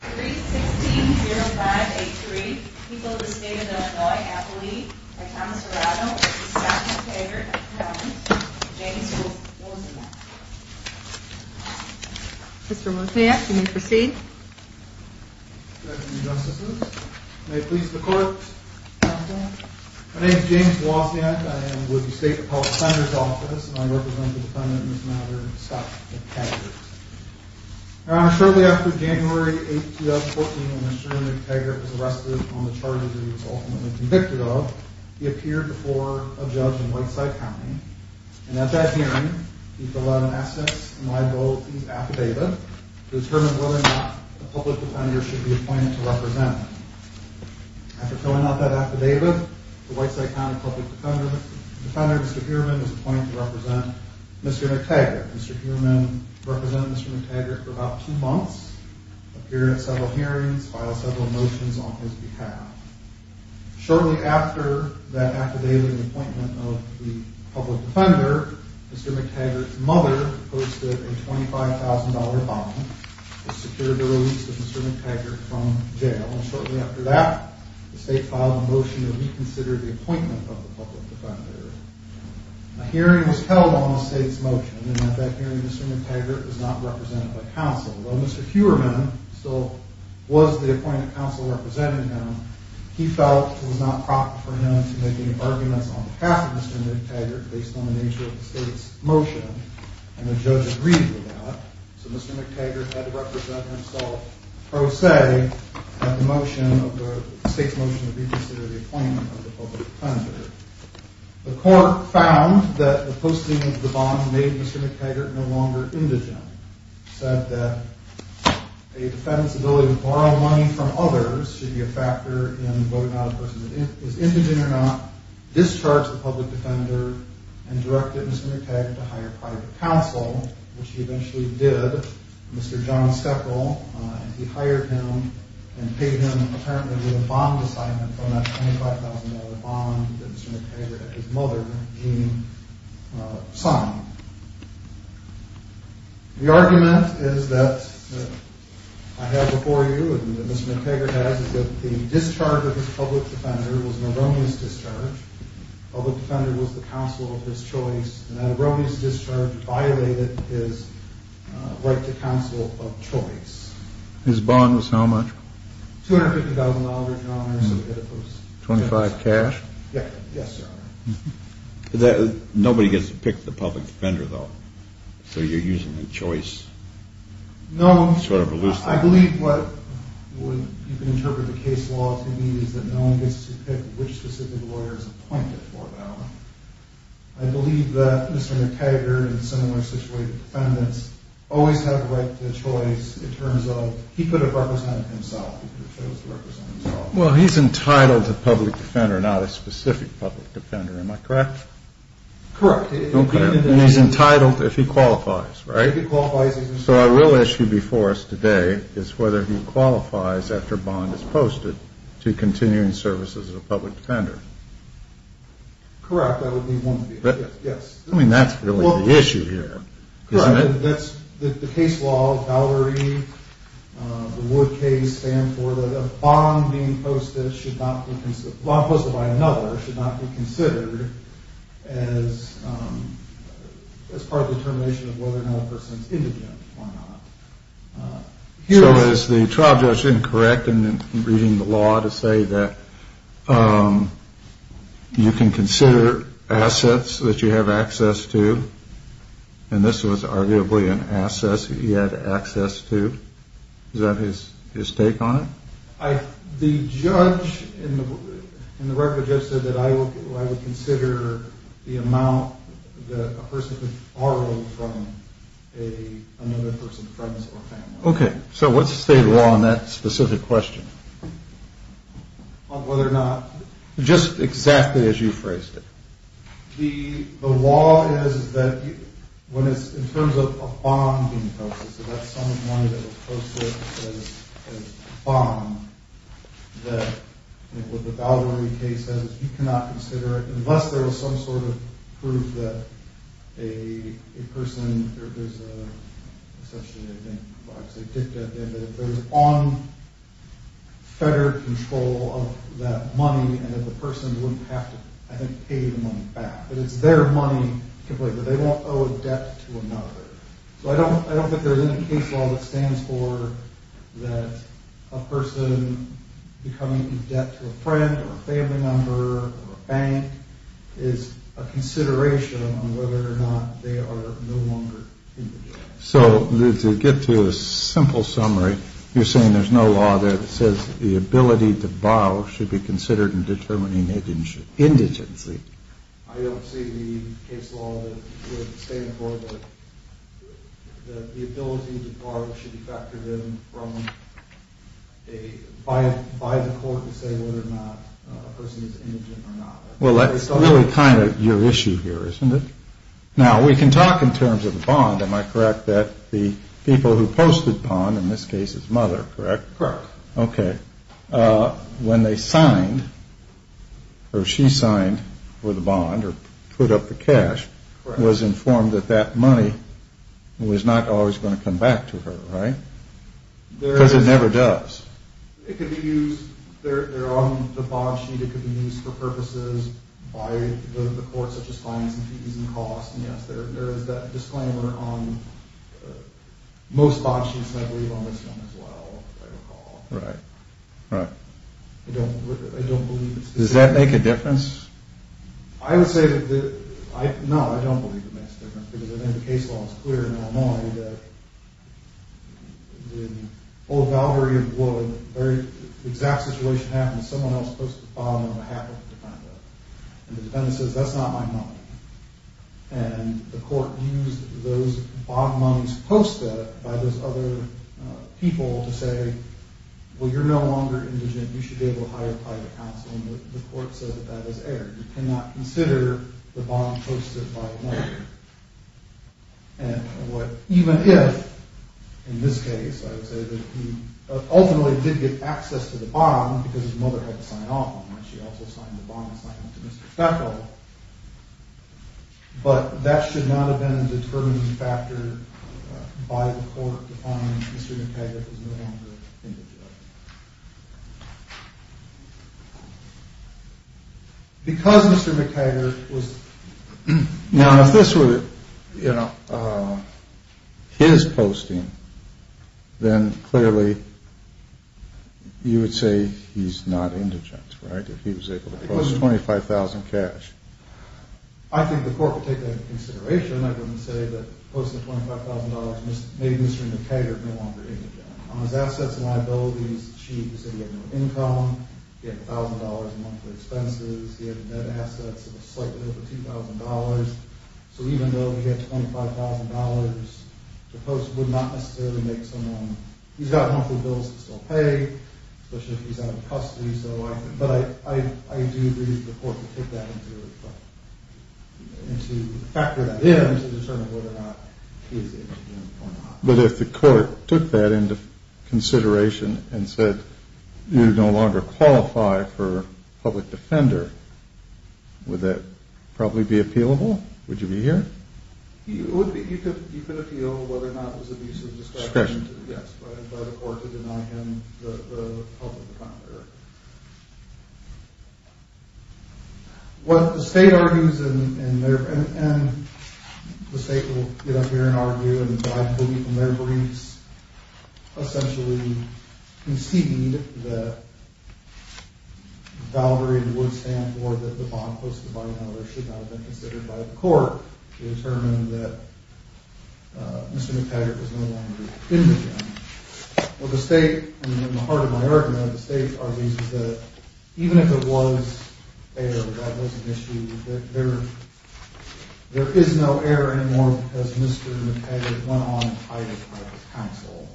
3-6-0-5-8-3 People of the State of Illinois, Appalachia, by Thomas Arado, MacTaggart, MacTaggart, James Wozniak Mr. Wozniak, you may proceed Good afternoon, Justices. May it please the Court, Counsel? My name is James Wozniak. I am with the State Appellate Senators Office, and I represent the defendant in this matter, MacTaggart. Your Honor, shortly after January 8, 2014, when Mr. MacTaggart was arrested on the charges he was ultimately convicted of, he appeared before a judge in Whiteside County, and at that hearing, he filled out an essence and liabilities affidavit to determine whether or not the public defender should be appointed to represent him. After filling out that affidavit, the Whiteside County public defender, Mr. Heuermann, was appointed to represent Mr. MacTaggart. Mr. Heuermann represented Mr. MacTaggart for about two months, appeared at several hearings, filed several motions on his behalf. Shortly after that affidavit and appointment of the public defender, Mr. MacTaggart's mother posted a $25,000 bond to secure the release of Mr. MacTaggart from jail. Shortly after that, the State filed a motion to reconsider the appointment of the public defender. A hearing was held on the State's motion, and at that hearing, Mr. MacTaggart was not represented by counsel. While Mr. Heuermann still was the appointed counsel representing him, he felt it was not proper for him to make any arguments on behalf of Mr. MacTaggart based on the nature of the State's motion, and the judge agreed with that. So Mr. MacTaggart had to represent himself pro se at the motion of the State's motion to reconsider the appointment of the public defender. The court found that the posting of the bond made Mr. MacTaggart no longer indigent, said that a defendant's ability to borrow money from others should be a factor in voting out a person as indigent or not, discharged the public defender, and directed Mr. MacTaggart to hire private counsel, which he eventually did. Mr. John Steckle, he hired him and paid him apparently with a bond assignment for that $25,000 bond that Mr. MacTaggart and his mother, Jean, signed. The argument is that I have before you, and that Mr. MacTaggart has, is that the discharge of his public defender was an erroneous discharge. The public defender was the counsel of his choice, and that erroneous discharge violated his right to counsel of choice. His bond was how much? $250,000, Your Honor. $25,000 cash? Yes, Your Honor. Nobody gets to pick the public defender, though, so you're using the choice. No. Sort of a loose thing. I believe what you can interpret the case law to be is that no one gets to pick which specific lawyer is appointed for them. I believe that Mr. MacTaggart and similar situated defendants always have the right to choice in terms of he could have represented himself. He could have chosen to represent himself. Well, he's entitled to public defender, not a specific public defender. Am I correct? Correct. And he's entitled if he qualifies, right? If he qualifies. So our real issue before us today is whether he qualifies after a bond is posted to continuing services of a public defender. Correct. That would be one of the issues. Yes. I mean, that's really the issue here, isn't it? The case law, Valerie, the Wood case stand for that a bond being posted should not be, a bond posted by another should not be considered as part of the determination of whether or not a person is indigent or not. So is the trial judge incorrect in reading the law to say that you can consider assets that you have access to? And this was arguably an asset he had access to. Is that his take on it? The judge in the record just said that I would consider the amount that a person could borrow from another person, friends or family. Okay. So what's the state of law on that specific question? On whether or not? Just exactly as you phrased it. The law is that when it's in terms of a bond being posted, so that sum of money that was posted as a bond, that what the Valerie case says, you cannot consider it unless there was some sort of proof that a person, or there's an assumption, I think, that if there was unfettered control of that money and that the person wouldn't have to pay the money back. That it's their money, but they won't owe a debt to another. So I don't think there's any case law that stands for that a person becoming in debt to a friend or a family member or a bank is a consideration on whether or not they are no longer indigent. So to get to a simple summary, you're saying there's no law there that says the ability to borrow should be considered in determining indigency. I don't see the case law that would stand for the ability to borrow should be factored in by the court to say whether or not a person is indigent or not. Well, that's really kind of your issue here, isn't it? Now, we can talk in terms of the bond, am I correct, that the people who posted the bond, in this case his mother, correct? Correct. Okay. When they signed, or she signed for the bond or put up the cash, was informed that that money was not always going to come back to her, right? Because it never does. It could be used, they're on the bond sheet, it could be used for purposes by the court such as financing fees and costs. And yes, there is that disclaimer on most bond sheets and I believe on this one as well, if I recall. Right, right. I don't believe it makes a difference. Does that make a difference? I would say that, no, I don't believe it makes a difference because I think the case law is clear in Illinois that the whole valvary of what a very exact situation happens, someone else posts the bond on behalf of the defendant. And the defendant says, that's not my money. And the court used those bond monies posted by those other people to say, well, you're no longer indigent, you should be able to hire private counseling. The court said that that is error. You cannot consider the bond posted by another. And what, even if, in this case, I would say that he ultimately did get access to the bond because his mother had to sign off on it. She also signed the bond assignment to Mr. Feckle. But that should not have been a determining factor by the court to find Mr. McKaggert was no longer indigent. Because Mr. McKaggert was... Now, if this were, you know, his posting, then clearly you would say he's not indigent, right? If he was able to post $25,000 cash. I think the court would take that into consideration. I wouldn't say that posting $25,000 made Mr. McKaggert no longer indigent. On his assets and liabilities, she would say he had no income. He had $1,000 in monthly expenses. He had net assets of slightly over $2,000. So even though he had $25,000 to post would not necessarily make someone... He's got monthly bills to still pay, especially if he's out of custody. But I do believe the court would take that into... factor that in to determine whether or not he is indigent or not. But if the court took that into consideration and said you no longer qualify for public defender, would that probably be appealable? Would you be here? You could appeal whether or not it was abuse of discretion by the court to deny him the public defender. What the state argues, and the state will get up here and argue, and I believe in their briefs essentially conceded that Valvery would stand for that the bond posted by another should not have been considered by the court to determine that Mr. McKaggert was no longer indigent. What the state, and in the heart of my argument, what the state argues is that even if it was error, that was an issue, there is no error anymore because Mr. McKaggert went on and hired a private counsel.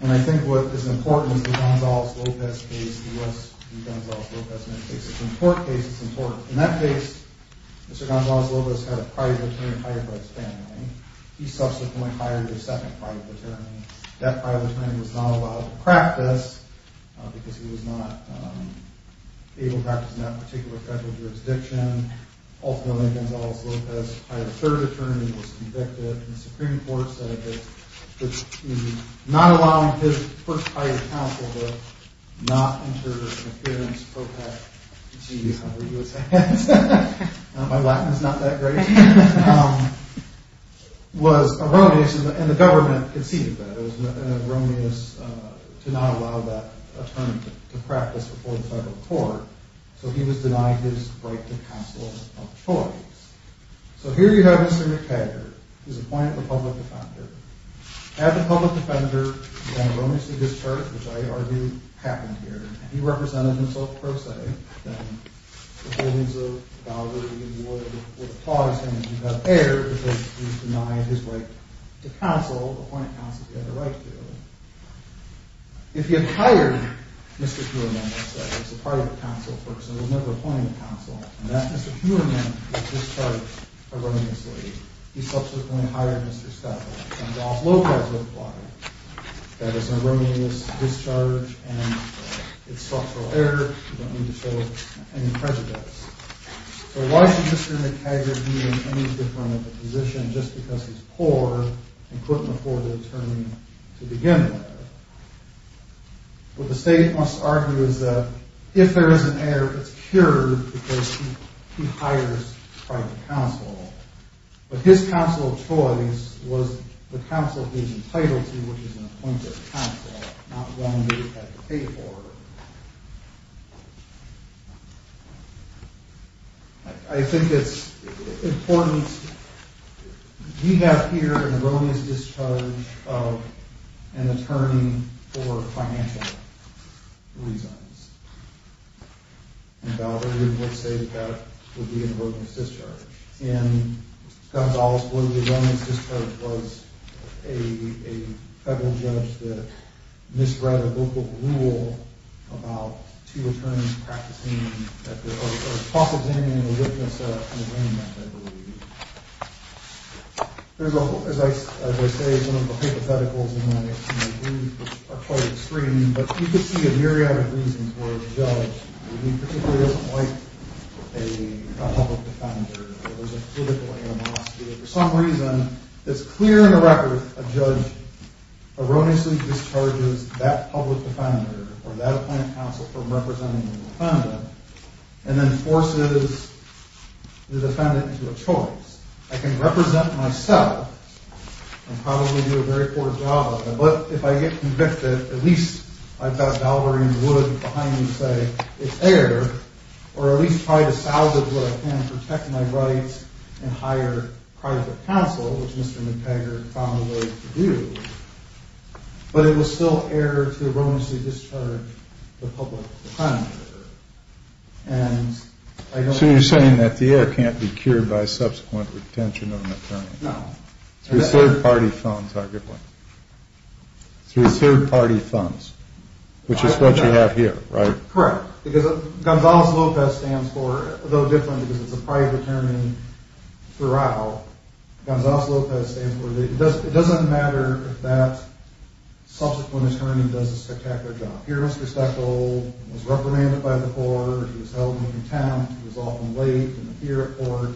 And I think what is important is the Gonzales-Lopez case, the U.S. v. Gonzales-Lopez case. It's an important case, it's important. In that case, Mr. Gonzales-Lopez had a private attorney hired by his family. He subsequently hired a second private attorney. That private attorney was not allowed to practice because he was not able to practice in that particular federal jurisdiction. Ultimately, Gonzales-Lopez hired a third attorney, was convicted, and the Supreme Court said that he was not allowing his first hired counsel to not enter an appearance pro pac. Gee, hungry U.S. hands. My Latin is not that great. Was erroneous, and the government conceded that. It was erroneous to not allow that attorney to practice before the federal court, so he was denied his right to counsel of choice. So here you have Mr. McKaggert, he's appointed the public defender. Had the public defender been erroneously discharged, which I argue happened here, and he represented himself pro se, then the holdings of Valderby would have caused him to have err because he was denied his right to counsel, appointed counsel if he had a right to. If he had hired Mr. Kuhlman, as I said, as a private counsel person, he was never appointed counsel, and that Mr. Kuhlman was discharged erroneously. He subsequently hired Mr. Stafford. And Ralph Lopez replied that it was an erroneous discharge and it's structural error. You don't need to show any prejudice. So why should Mr. McKaggert be in any different position just because he's poor and couldn't afford an attorney to begin with? What the state must argue is that if there is an error, it's cured because he hires private counsel. But his counsel choice was the counsel he was entitled to, which is an appointed counsel, not one that he had to pay for. I think it's important. We have here an erroneous discharge of an attorney for financial reasons. And I would say that would be an erroneous discharge. And Gonzales, who was an erroneous discharge, was a federal judge that misread a local rule about two attorneys practicing that there are a possibility and a witness in the ring, I believe. As I say, some of the hypotheticals in my view are quite extreme, but you could see a myriad of reasons where a judge, when he particularly doesn't like a public defender, or there's a critical animosity, or for some reason, it's clear in the record a judge erroneously discharges that public defender or that appointed counsel from representing the defendant and then forces the defendant into a choice. But if I get convicted, at least I've got Valverde and Wood behind me saying it's air, or at least try to salvage what I can to protect my rights and hire private counsel, which Mr. McTaggart found a way to do. But it was still air to erroneously discharge the public defender. So you're saying that the air can't be cured by subsequent retention of an attorney? No. Through third-party funds, arguably. Through third-party funds, which is what you have here, right? Correct. Because Gonzales-Lopez stands for, though different because it's a private attorney throughout, Gonzales-Lopez stands for, it doesn't matter if that subsequent attorney does a spectacular job. Here Mr. Stackle was reprimanded by the court, he was held in contempt, he was often late in the peer report,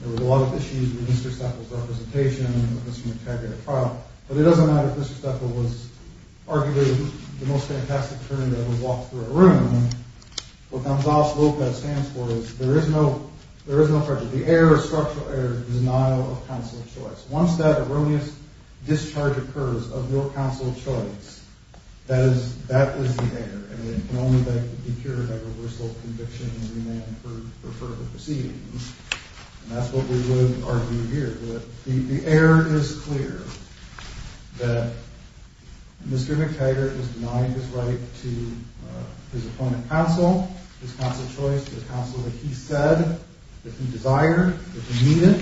there were a lot of issues with Mr. Stackle's representation with Mr. McTaggart at trial, but it doesn't matter if Mr. Stackle was arguably the most fantastic attorney that ever walked through a room. What Gonzales-Lopez stands for is there is no prejudice. The air is structural air, the denial of counsel of choice. Once that erroneous discharge occurs of no counsel of choice, that is the air, and it can only be cured by reversal of conviction and remand for further proceedings. And that's what we would argue here. The air is clear that Mr. McTaggart was denied his right to his opponent counsel, his counsel of choice, the counsel that he said that he desired, that he needed.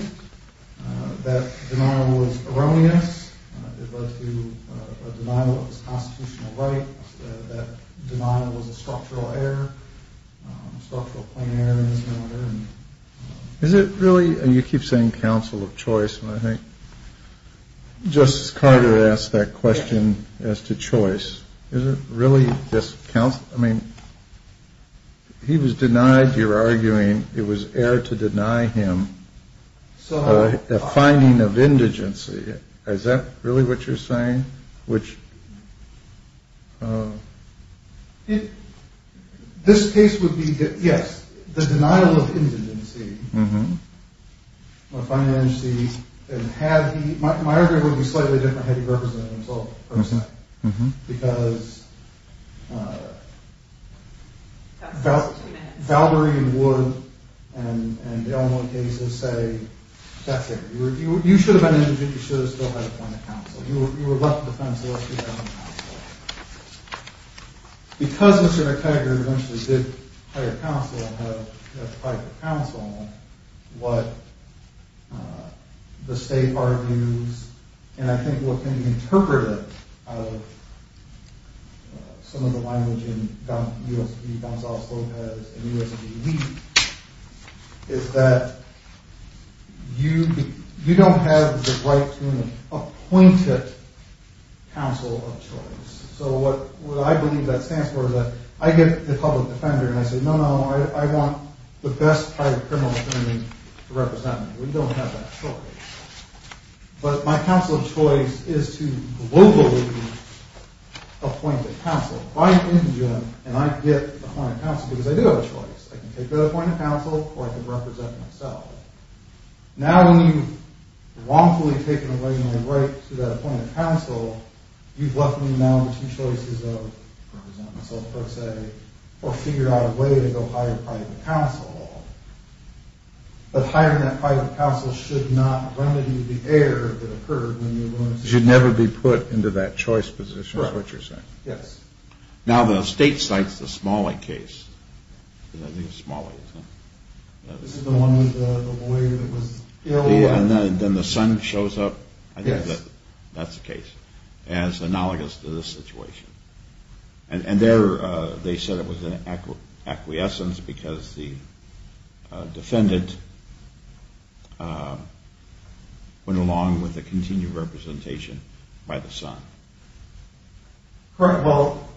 That denial was erroneous. It led to a denial of his constitutional right. That denial was a structural air, structural plain air in this matter. Is it really, and you keep saying counsel of choice, and I think Justice Carter asked that question as to choice. Is it really just counsel? I mean, he was denied, you're arguing it was air to deny him a finding of indigency. Is that really what you're saying? This case would be, yes, the denial of indigency, a finding of indigency, and had he, my argument would be slightly different had he represented himself personally. Because Valbury and Wood and the other cases say, that's it, you should have been indigent. You should have still had a point of counsel. You were left defenseless. You had no counsel. Because Mr. McTaggart eventually did hire counsel and had to fight for counsel, what the state argues, and I think what can be interpreted out of some of the language in U.S. v. Gonzales-Lopez and U.S. v. Lee is that you don't have the right to an appointed counsel of choice. So what I believe that stands for is that I get the public defender and I say, no, no, I want the best private criminal attorney to represent me. We don't have that choice. But my counsel of choice is to globally appoint a counsel. So if I'm indigent and I get appointed counsel because I do have a choice, I can take that appointed counsel or I can represent myself. Now when you've wrongfully taken away my right to that appointed counsel, you've left me now with two choices of represent myself per se or figure out a way to go hire private counsel. But hiring that private counsel should not remedy the error that occurred Should never be put into that choice position is what you're saying. Yes. Now the state cites the Smalley case. This is the one with the boy that was ill. And then the son shows up. Yes. That's the case. As analogous to this situation. And there they said it was an acquiescence because the defendant went along with the continued representation by the son. Correct. Well,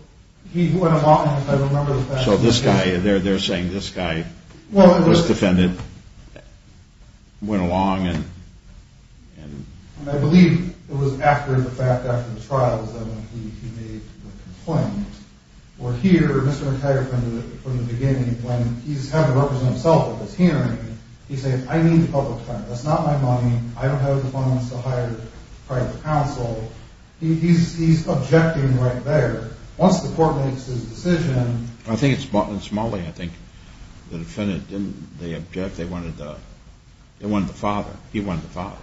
he went along because I remember the fact. So this guy, they're saying this guy was defended, went along and. I believe it was after the fact, after the trial, was that when he made the complaint. Where here, Mr. McTigre defended it from the beginning. When he's having to represent himself at this hearing, he says, I need the public's time. That's not my money. I don't have the funds to hire private counsel. He's objecting right there. Once the court makes his decision. I think it's Smalley. I think the defendant didn't object. They wanted the father. He wanted the father.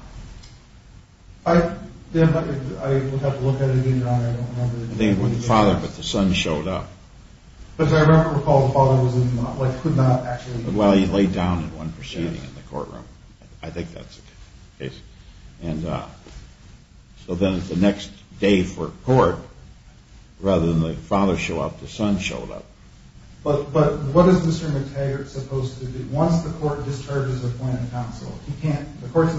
I would have to look at it again. I don't remember. They wanted the father, but the son showed up. Because I remember the father could not actually. Well, he laid down in one proceeding in the courtroom. I think that's the case. And so then it's the next day for court, rather than the father show up, the son showed up. But what is Mr. McTigre supposed to do? Once the court discharges a plaintiff counsel, he can't. The court's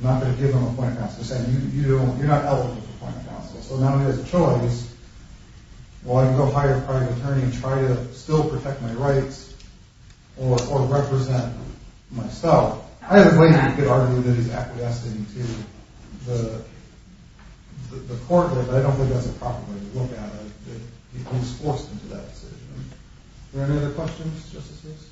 not going to give him a plaintiff counsel. You're not eligible for plaintiff counsel. So now he has a choice. Well, I can go hire a private attorney and try to still protect my rights or represent myself. I have faith he could argue that he's acquiescing to the court. But I don't think that's a proper way to look at it. He's forced into that decision. Are there any other questions, Justice Lewis?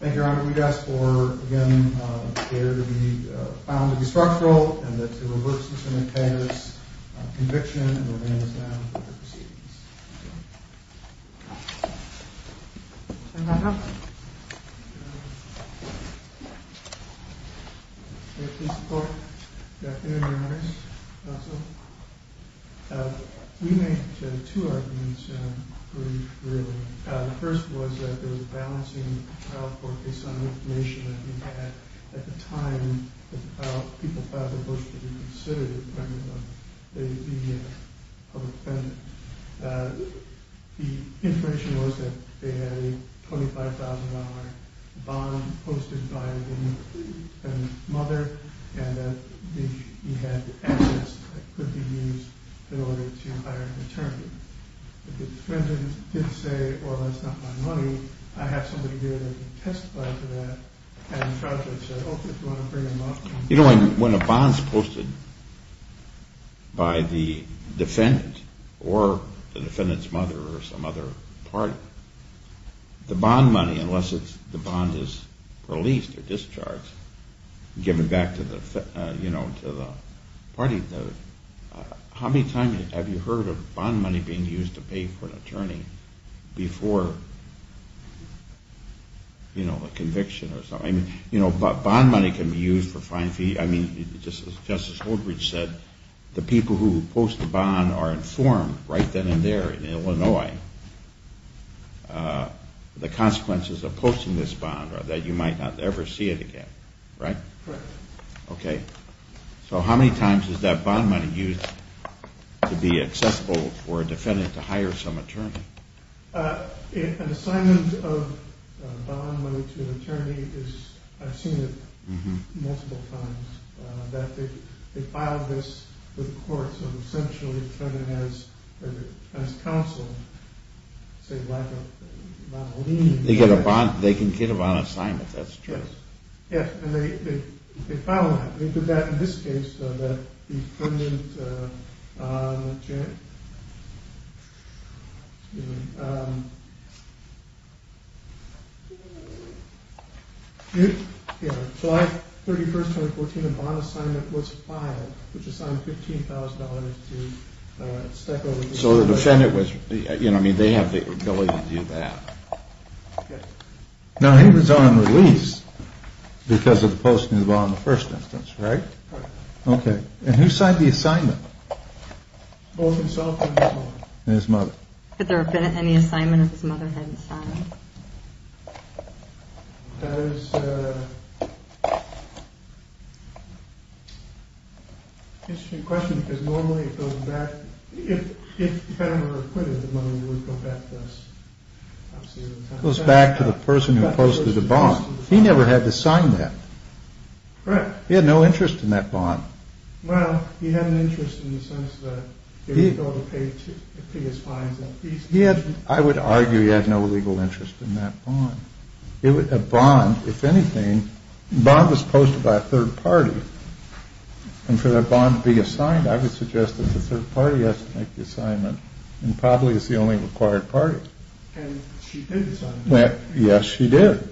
Thank you, Your Honor. We'd ask for, again, the case to be found to be structural and that to reverse Mr. McTigre's conviction. And we'll bring this down for the proceedings. We made two arguments pretty clearly. The first was that there was a balancing trial court based on information that we had at the time that people filed a motion to reconsider the appointment of a public defendant. The information was that they had a $25,000 bond posted by the mother and that he had assets that could be used in order to hire an attorney. If the defendant did say, well, that's not my money, I have somebody here that can testify to that You know, when a bond's posted by the defendant or the defendant's mother or some other party, the bond money, unless the bond is released or discharged, given back to the party, how many times have you heard of bond money being used to pay for an attorney before, you know, a conviction or something? You know, bond money can be used for fine fees. I mean, just as Justice Holdridge said, the people who post the bond are informed right then and there in Illinois the consequences of posting this bond are that you might not ever see it again. Right? Okay. So how many times is that bond money used to be accessible for a defendant to hire some attorney? An assignment of bond money to an attorney is, I've seen it multiple times, that they file this with the courts and essentially turn it as counsel, say, like a lien. They can get a bond assignment, that's true. Yes, and they file that. They did that in this case, though, that the defendant, excuse me, July 31st, 2014, a bond assignment was filed, which assigned $15,000 to Stecco. So the defendant was, you know, I mean, they have the ability to do that. Now he was on release because of the posting of the bond in the first instance, right? Right. Okay. And who signed the assignment? Both himself and his mother. And his mother. Had there been any assignment that his mother hadn't signed? That is an interesting question because normally it goes back, if the defendant were acquitted, the money would go back to us. It goes back to the person who posted the bond. He never had to sign that. Correct. He had no interest in that bond. Well, he had an interest in the sense that he would be able to pay his fines. I would argue he had no legal interest in that bond. A bond, if anything, a bond was posted by a third party, and for that bond to be assigned, I would suggest that the third party has to make the assignment and probably is the only required party. And she did sign it. Yes, she did.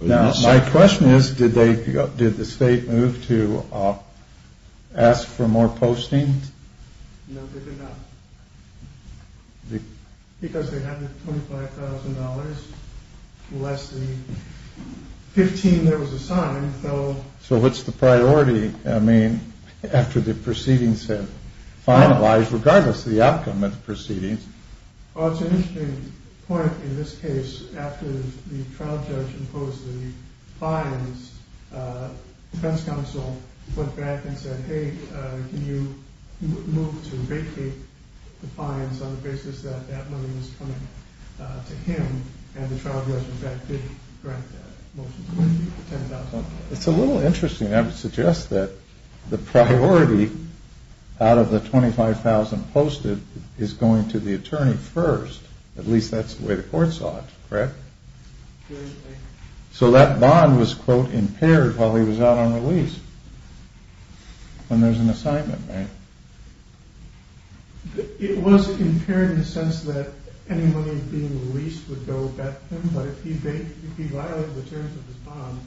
Now, my question is, did the state move to ask for more postings? No, they did not. Because they had the $25,000 less the 15 there was assigned. So what's the priority? I mean, after the proceedings have finalized, regardless of the outcome of the proceedings. Well, it's an interesting point. In this case, after the trial judge imposed the fines, the defense counsel went back and said, hey, can you move to vacate the fines on the basis that that money was coming to him? And the trial judge, in fact, did grant that motion, the $10,000. It's a little interesting. I would suggest that the priority out of the $25,000 posted is going to the attorney first. At least that's the way the court saw it, correct? So that bond was, quote, impaired while he was out on release. When there's an assignment, right? It was impaired in the sense that any money being released would go back to him, but if he violated the terms of his bond,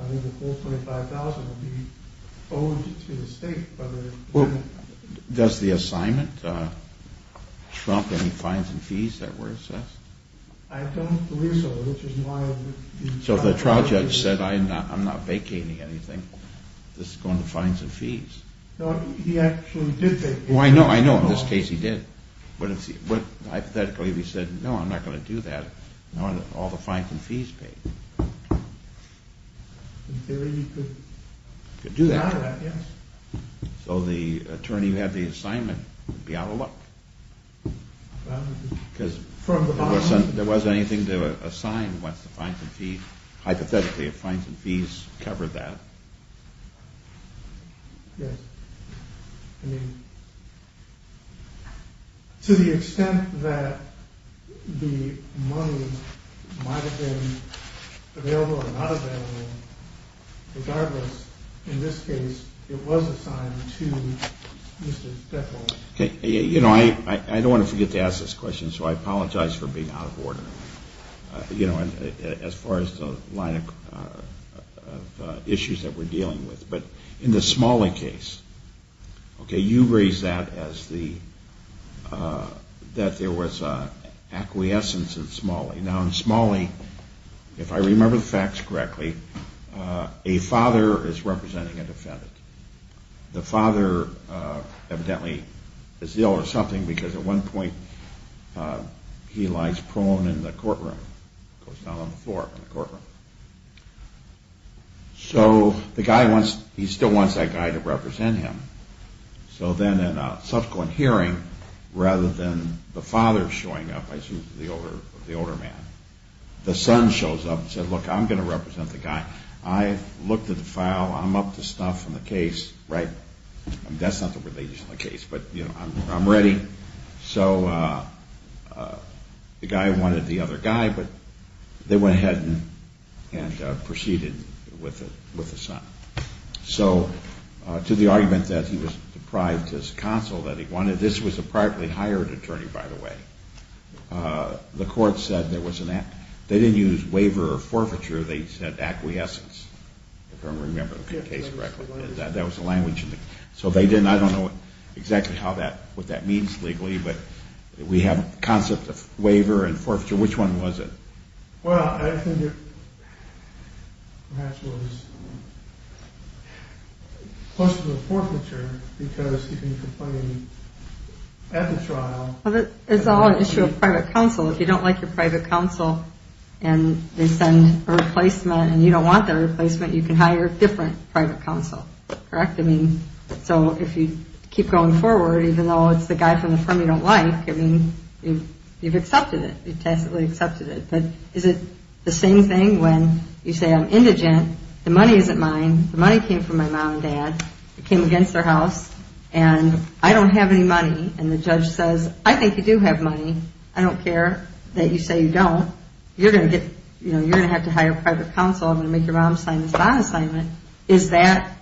I think the full $25,000 would be owed to the state. Does the assignment trump any fines and fees that were assessed? I don't believe so. So if the trial judge said, I'm not vacating anything, this is going to fine some fees. No, he actually did vacate. Oh, I know, I know. In this case, he did. Hypothetically, if he said, no, I'm not going to do that, all the fines and fees paid. In theory, he could do that, yes. So the attorney who had the assignment would be out of luck. Because there wasn't anything to assign once the fines and fees, hypothetically, if fines and fees covered that. Yes. I mean, to the extent that the money might have been available or not available, regardless, in this case, it was assigned to Mr. Deffold. You know, I don't want to forget to ask this question, so I apologize for being out of order. You know, as far as the line of issues that we're dealing with. But in the Smalley case, okay, you raised that as the, that there was acquiescence in Smalley. Now, in Smalley, if I remember the facts correctly, a father is representing a defendant. The father evidently is ill or something, because at one point he lies prone in the courtroom. Goes down on the floor in the courtroom. So the guy wants, he still wants that guy to represent him. So then in a subsequent hearing, rather than the father showing up, I assume the older man, the son shows up and says, look, I'm going to represent the guy. I looked at the file. I'm up to stuff in the case, right? I mean, that's not the relation of the case, but, you know, I'm ready. So the guy wanted the other guy, but they went ahead and proceeded with the son. So to the argument that he was deprived his counsel, that he wanted, this was a privately hired attorney, by the way. The court said there was an, they didn't use waiver or forfeiture. They said acquiescence, if I remember the case correctly. That was the language. So they didn't, I don't know exactly how that, what that means legally, but we have a concept of waiver and forfeiture. Which one was it? Well, I think it perhaps was closer to the forfeiture, because you can complain at the trial. Well, it's all an issue of private counsel. If you don't like your private counsel and they send a replacement and you don't want the replacement, you can hire a different private counsel, correct? I mean, so if you keep going forward, even though it's the guy from the firm you don't like, I mean, you've accepted it. You've tacitly accepted it. But is it the same thing when you say I'm indigent, the money isn't mine, the money came from my mom and dad, it came against their house, and I don't have any money, and the judge says, I think you do have money. I don't care that you say you don't. You're going to get, you know, you're going to have to hire private counsel. I'm going to make your mom sign this bond assignment. Is that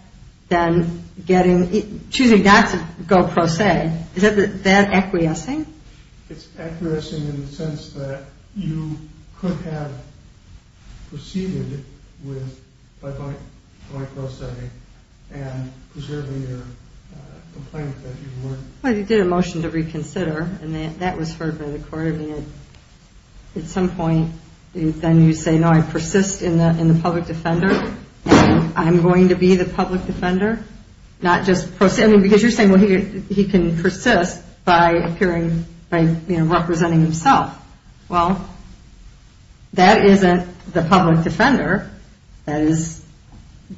then getting, choosing not to go pro se, is that acquiescing? It's acquiescing in the sense that you could have proceeded by going pro se and preserving your complaint that you weren't. Well, you did a motion to reconsider, and that was heard by the court. I mean, at some point, then you say, no, I persist in the public defender, and I'm going to be the public defender, not just pro se. I mean, because you're saying, well, he can persist by appearing, by, you know, representing himself. Well, that isn't the public defender, that is,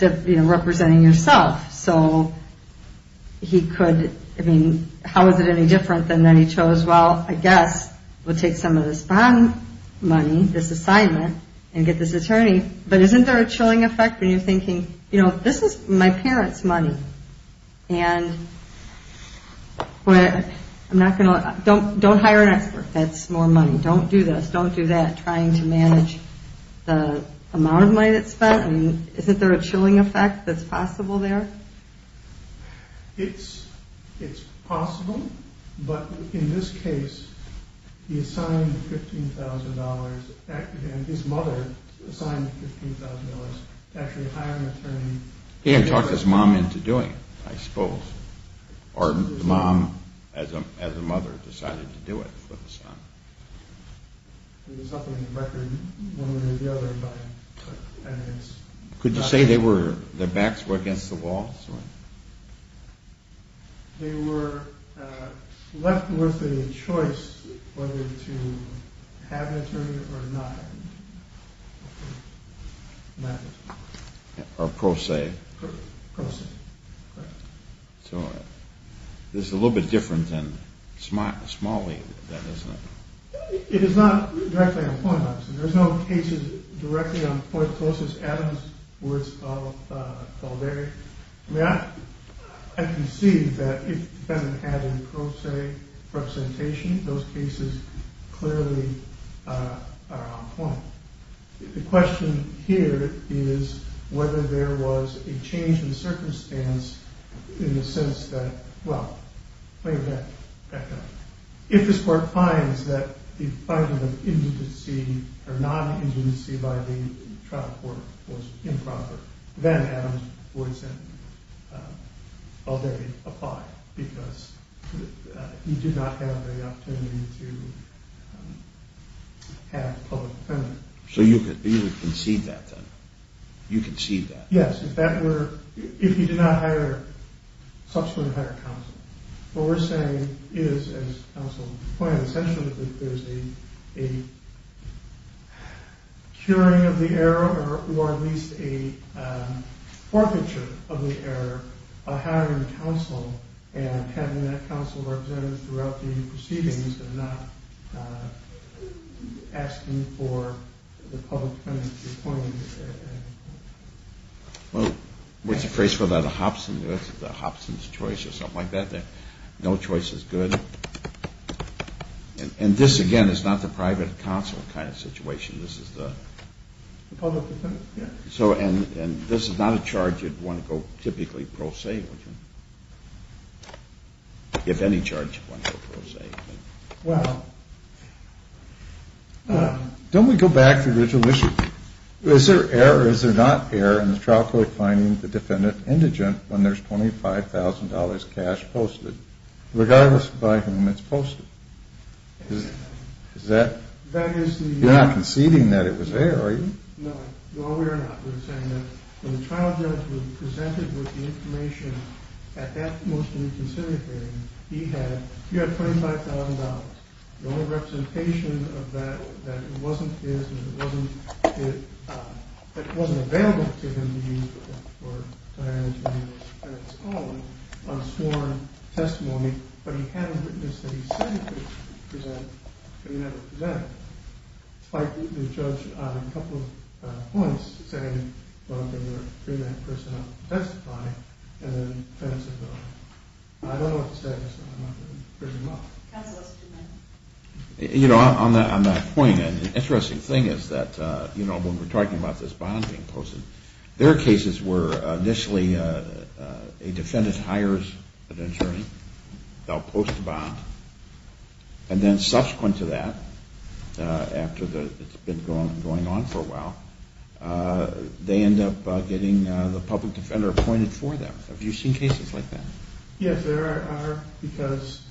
you know, representing yourself. So he could, I mean, how is it any different than that he chose, well, I guess we'll take some of this bond money, this assignment, and get this attorney. But isn't there a chilling effect when you're thinking, you know, this is my parents' money, and I'm not going to, don't hire an expert. That's more money. Don't do this, don't do that, trying to manage the amount of money that's spent. Isn't there a chilling effect that's possible there? It's possible, but in this case, he assigned $15,000, his mother assigned $15,000 to actually hire an attorney. He had talked his mom into doing it, I suppose. Or his mom, as a mother, decided to do it for the son. It was up on the record, one way or the other, by evidence. Could you say their backs were against the wall? They were left with a choice whether to have an attorney or not. Or pro se. Pro se, correct. So this is a little bit different than small wave, isn't it? It is not directly on point, obviously. There's no cases directly on point, as close as Adam's words fall there. I mean, I can see that if the defendant had a pro se representation, those cases clearly are on point. The question here is whether there was a change in circumstance in the sense that, well, think of that background. If this court finds that the finding of indecency or non-indecency by the trial court was improper, then Adam's words then, although they apply, because he did not have the opportunity to have public defendants. So you would concede that, then? You concede that? Yes. If that were, if he did not hire, subsequently hire counsel. What we're saying is, as counsel pointed out, essentially that there's a curing of the error or at least a forfeiture of the error by hiring counsel and having that counsel represented throughout the proceedings and not asking for the public defendants to be appointed. Well, what's the phrase for that, a Hobson's choice or something like that? No choice is good. And this, again, is not the private counsel kind of situation. This is the public defendants. And this is not a charge you'd want to go typically pro se with him, if any charge you'd want to go pro se. Well. Don't we go back to the original issue? Is there error or is there not error in the trial court finding the defendant indigent when there's $25,000 cash posted, regardless by whom it's posted? Is that, you're not conceding that it was error, are you? No, no, we are not. We're saying that when the trial judge was presented with the information at that motion to reconsider hearing, he had $25,000. The only representation of that, that it wasn't his, that it wasn't available to him to use or to hire an attorney of his own on sworn testimony, but he had a witness that he said he could present, but he never presented. The judge on a couple of points said, well, they were a pre-match person to testify, and then the defendant said no. I don't know what the status is, but I'm not going to prism up. You know, on that point, an interesting thing is that, you know, when we're talking about this bond being posted, their cases were initially a defendant hires an attorney, they'll post a bond, and then subsequent to that, after it's been going on for a while, they end up getting the public defender appointed for them. Have you seen cases like that? Yes, there are, because...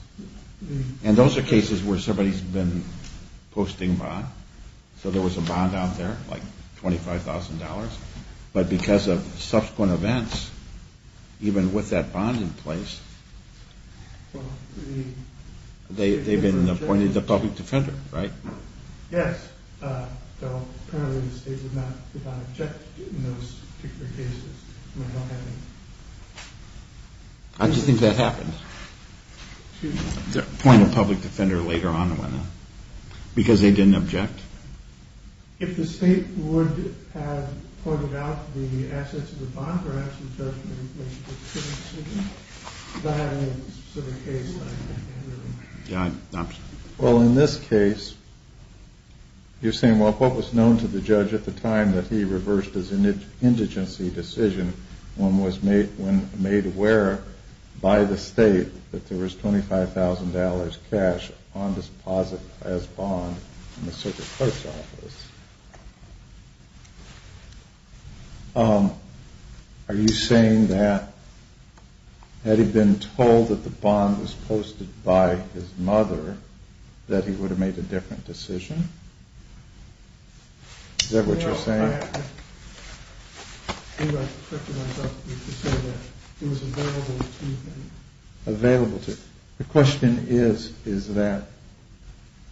And those are cases where somebody's been posting a bond, so there was a bond out there, like $25,000, but because of subsequent events, even with that bond in place, they've been appointed the public defender, right? Yes, though apparently the state did not object in those particular cases. How do you think that happened, appoint a public defender later on, because they didn't object? If the state would have pointed out the assets of the bond, perhaps the judge would have made a specific decision, but I don't know of a specific case that I can remember. Well, in this case, you're saying, well, if what was known to the judge at the time that he reversed his indigency decision when made aware by the state that there was $25,000 cash on deposit as bond in the circuit court's office, are you saying that had he been told that the bond was posted by his mother, that he would have made a different decision? Is that what you're saying? The question is, is that,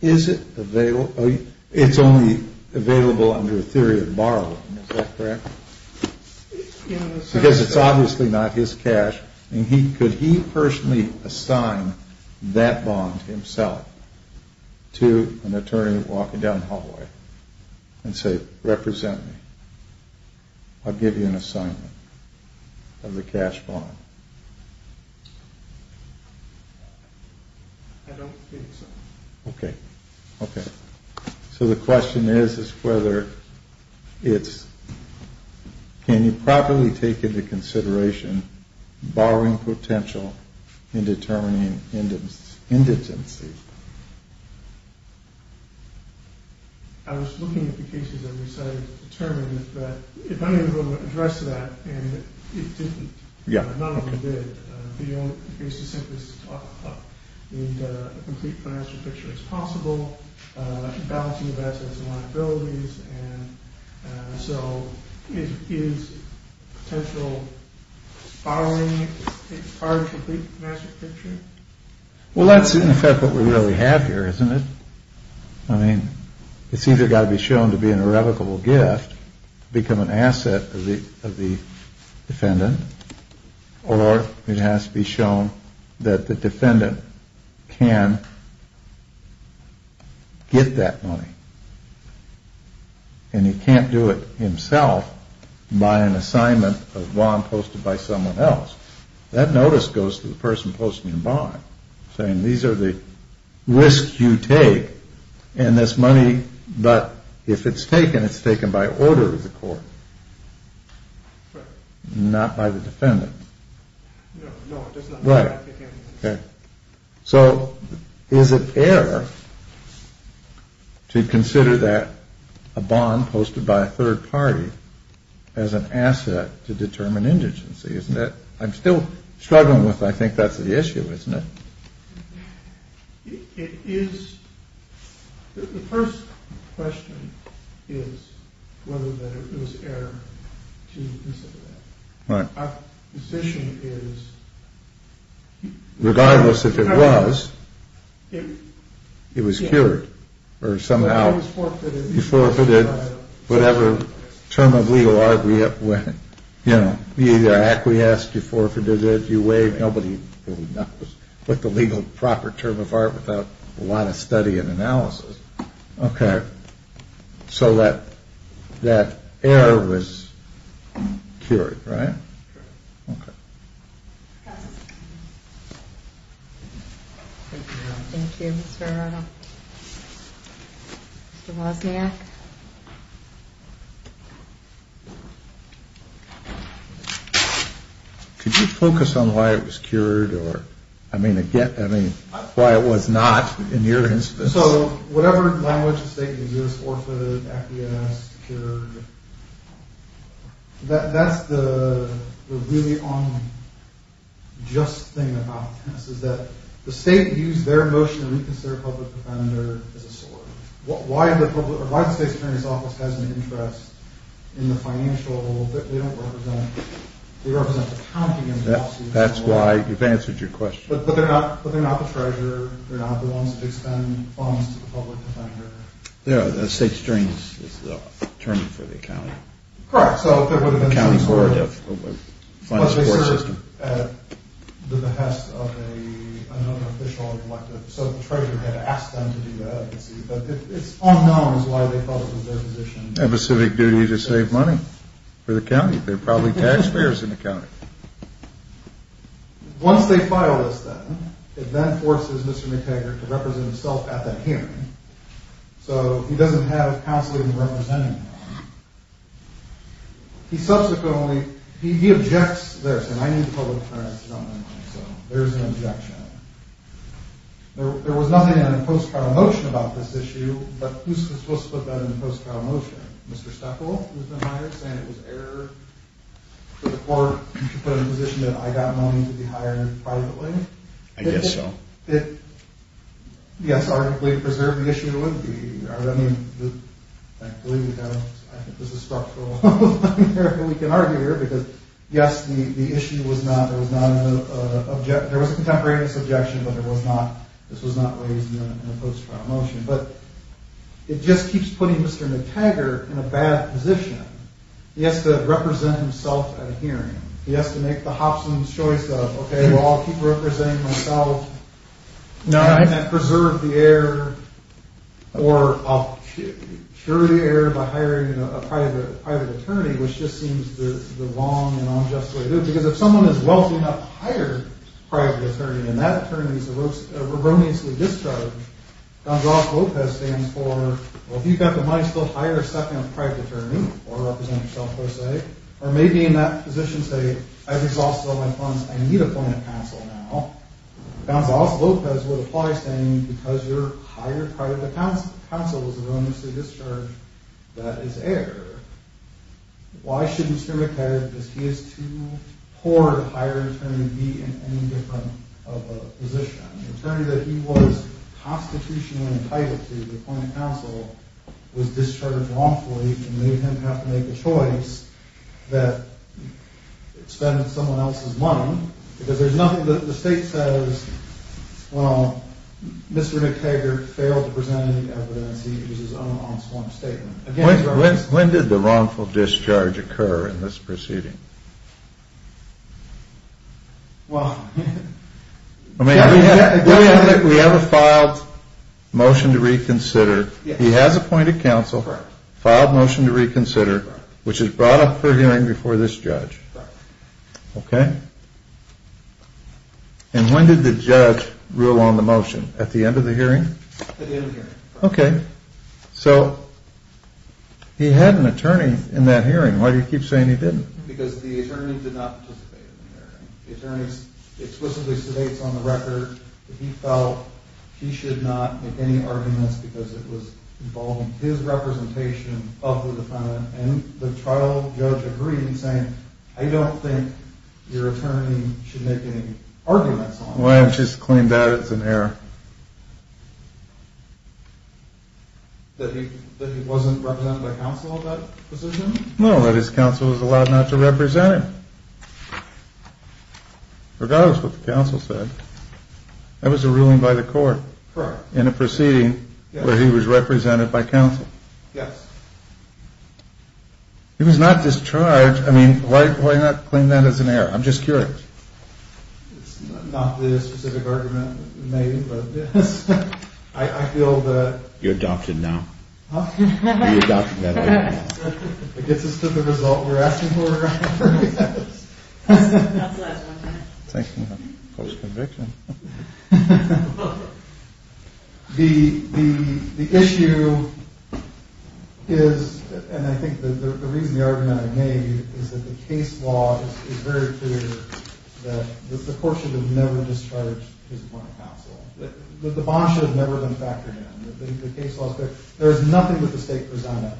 is it available? It's only available under a theory of borrowing, is that correct? Because it's obviously not his cash, and could he personally assign that bond himself to an attorney walking down the hallway and say, represent me, I'll give you an assignment of the cash bond? I don't think so. Okay. Okay. So the question is, is whether it's, can you properly take into consideration borrowing potential in determining indigency? I was looking at the cases that we cited to determine if any of them addressed that, and it didn't. None of them did. The case is simply to talk about a complete financial picture as possible, balancing assets and liabilities, and so is potential borrowing part of the complete financial picture? Well, that's in effect what we really have here, isn't it? I mean, it's either got to be shown to be an irrevocable gift, become an asset of the defendant, or it has to be shown that the defendant can get that money. And he can't do it himself by an assignment of bond posted by someone else. That notice goes to the person posting the bond, saying these are the risks you take in this money, but if it's taken, it's taken by order of the court, not by the defendant. No, that's not right. So is it error to consider that a bond posted by a third party as an asset to determine indigency? Isn't it? I'm still struggling with I think that's the issue, isn't it? It is. The first question is whether it was error to consider that. Right. Nobody really knows what the legal proper term of art without a lot of study and analysis. Okay. So that error was cured, right? Could you focus on why it was cured or I mean, again, I mean, why it was not in your instance? So whatever language the state uses, orphaned, acquiesced, cured, that's the really unjust thing about this, is that the state used their motion to reconsider public defender as a source. Why the state's attorney's office has an interest in the financial, they don't represent, they represent the county. That's why you've answered your question. But they're not the treasurer, they're not the ones that expend funds to the public defender. Yeah, the state's attorney is the attorney for the county. Correct. So there would have been some sort of... At the behest of another official or collective. So the treasurer had asked them to do that. But it's unknown as to why they thought it was their position. They have a civic duty to save money for the county. They're probably taxpayers in the county. Once they file this then, it then forces Mr. McTaggart to represent himself at that hearing. So he doesn't have counsel even representing him. He subsequently, he objects there, saying I need the public defender to settle my money. So there's an objection. There was nothing in the post-trial motion about this issue, but who's supposed to put that in the post-trial motion? Mr. Stoeckl, who's been hired, saying it was error for the court to put it in the position that I got money to be hired privately. I guess so. Yes, arguably to preserve the issue, it would be. I mean, frankly, I think this is structural. We can argue here, because yes, the issue was not, there was not an objection. There was a contemporaneous objection, but this was not raised in the post-trial motion. But it just keeps putting Mr. McTaggart in a bad position. He has to represent himself at a hearing. He has to make the Hobson's choice of, okay, well, I'll keep representing myself. No, I can't preserve the error, or I'll cure the error by hiring a private attorney, which just seems the wrong and unjust way to do it, because if someone is wealthy enough to hire a private attorney, and that attorney is erroneously discharged, Count Ross Lopez stands for, well, if you've got the money, still hire a second private attorney, or represent yourself, per se. Or maybe in that position say, I've exhausted all my funds. I need a point of counsel now. Count Ross Lopez would apply, saying, because your hired private counsel is erroneously discharged, that is error. Why should Mr. McTaggart, because he is too poor to hire an attorney to be in any different of a position? The attorney that he was constitutionally entitled to, the point of counsel, was discharged wrongfully and made him have to make a choice that spent someone else's money, because there's nothing that the state says, well, Mr. McTaggart failed to present any evidence. He used his own unsworn statement. When did the wrongful discharge occur in this proceeding? Well, we have a filed motion to reconsider. He has a point of counsel, filed motion to reconsider, which is brought up for hearing before this judge. Okay. And when did the judge rule on the motion? At the end of the hearing? At the end of the hearing. Okay. So he had an attorney in that hearing. Why do you keep saying he didn't? Because the attorney did not participate in the hearing. The attorney explicitly sedates on the record that he felt he should not make any arguments because it was involving his representation of the defendant, and the trial judge agreed in saying, I don't think your attorney should make any arguments on that. Why not just claim that as an error? That he wasn't represented by counsel in that position? No, that his counsel was allowed not to represent him, regardless of what the counsel said. That was a ruling by the court in a proceeding where he was represented by counsel. Yes. He was not discharged. I mean, why not claim that as an error? I'm just curious. It's not really a specific argument, maybe, but I feel that— You're adopted now. Huh? You're adopted now. It gets us to the result we're asking for. That's the last one. Thank you. Close conviction. The issue is, and I think the reason the argument I made, is that the case law is very clear that the court should have never discharged his point of counsel. The bond should have never been factored in. The case law is clear. There is nothing that the state presented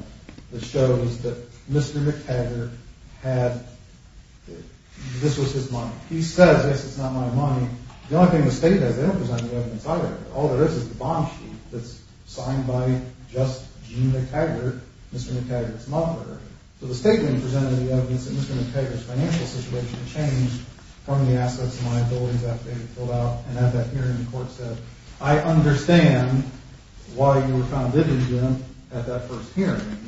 that shows that Mr. McTaggart had—this was his money. He says, yes, it's not my money. The only thing the state has, they don't present any evidence either. All there is is the bond sheet that's signed by just Gene McTaggart, Mr. McTaggart's mother. So the state didn't present any evidence that Mr. McTaggart's financial situation changed from the assets and liabilities that they had filled out, and at that hearing the court said, I understand why you were found indigent at that first hearing,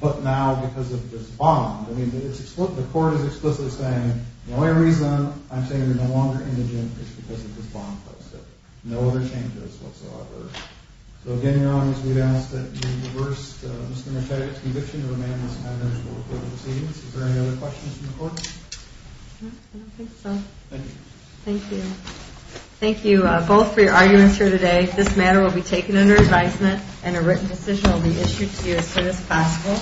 but now because of this bond. I mean, the court is explicitly saying, the only reason I'm saying you're no longer indigent is because of this bond. No other changes whatsoever. So again, Your Honor, we would ask that you reverse Mr. McTaggart's conviction and remain in this manner until the court proceeds. Is there any other questions from the court? I don't think so. Thank you. Thank you. Thank you both for your arguments here today. This matter will be taken under advisement, and a written decision will be issued to you as soon as possible.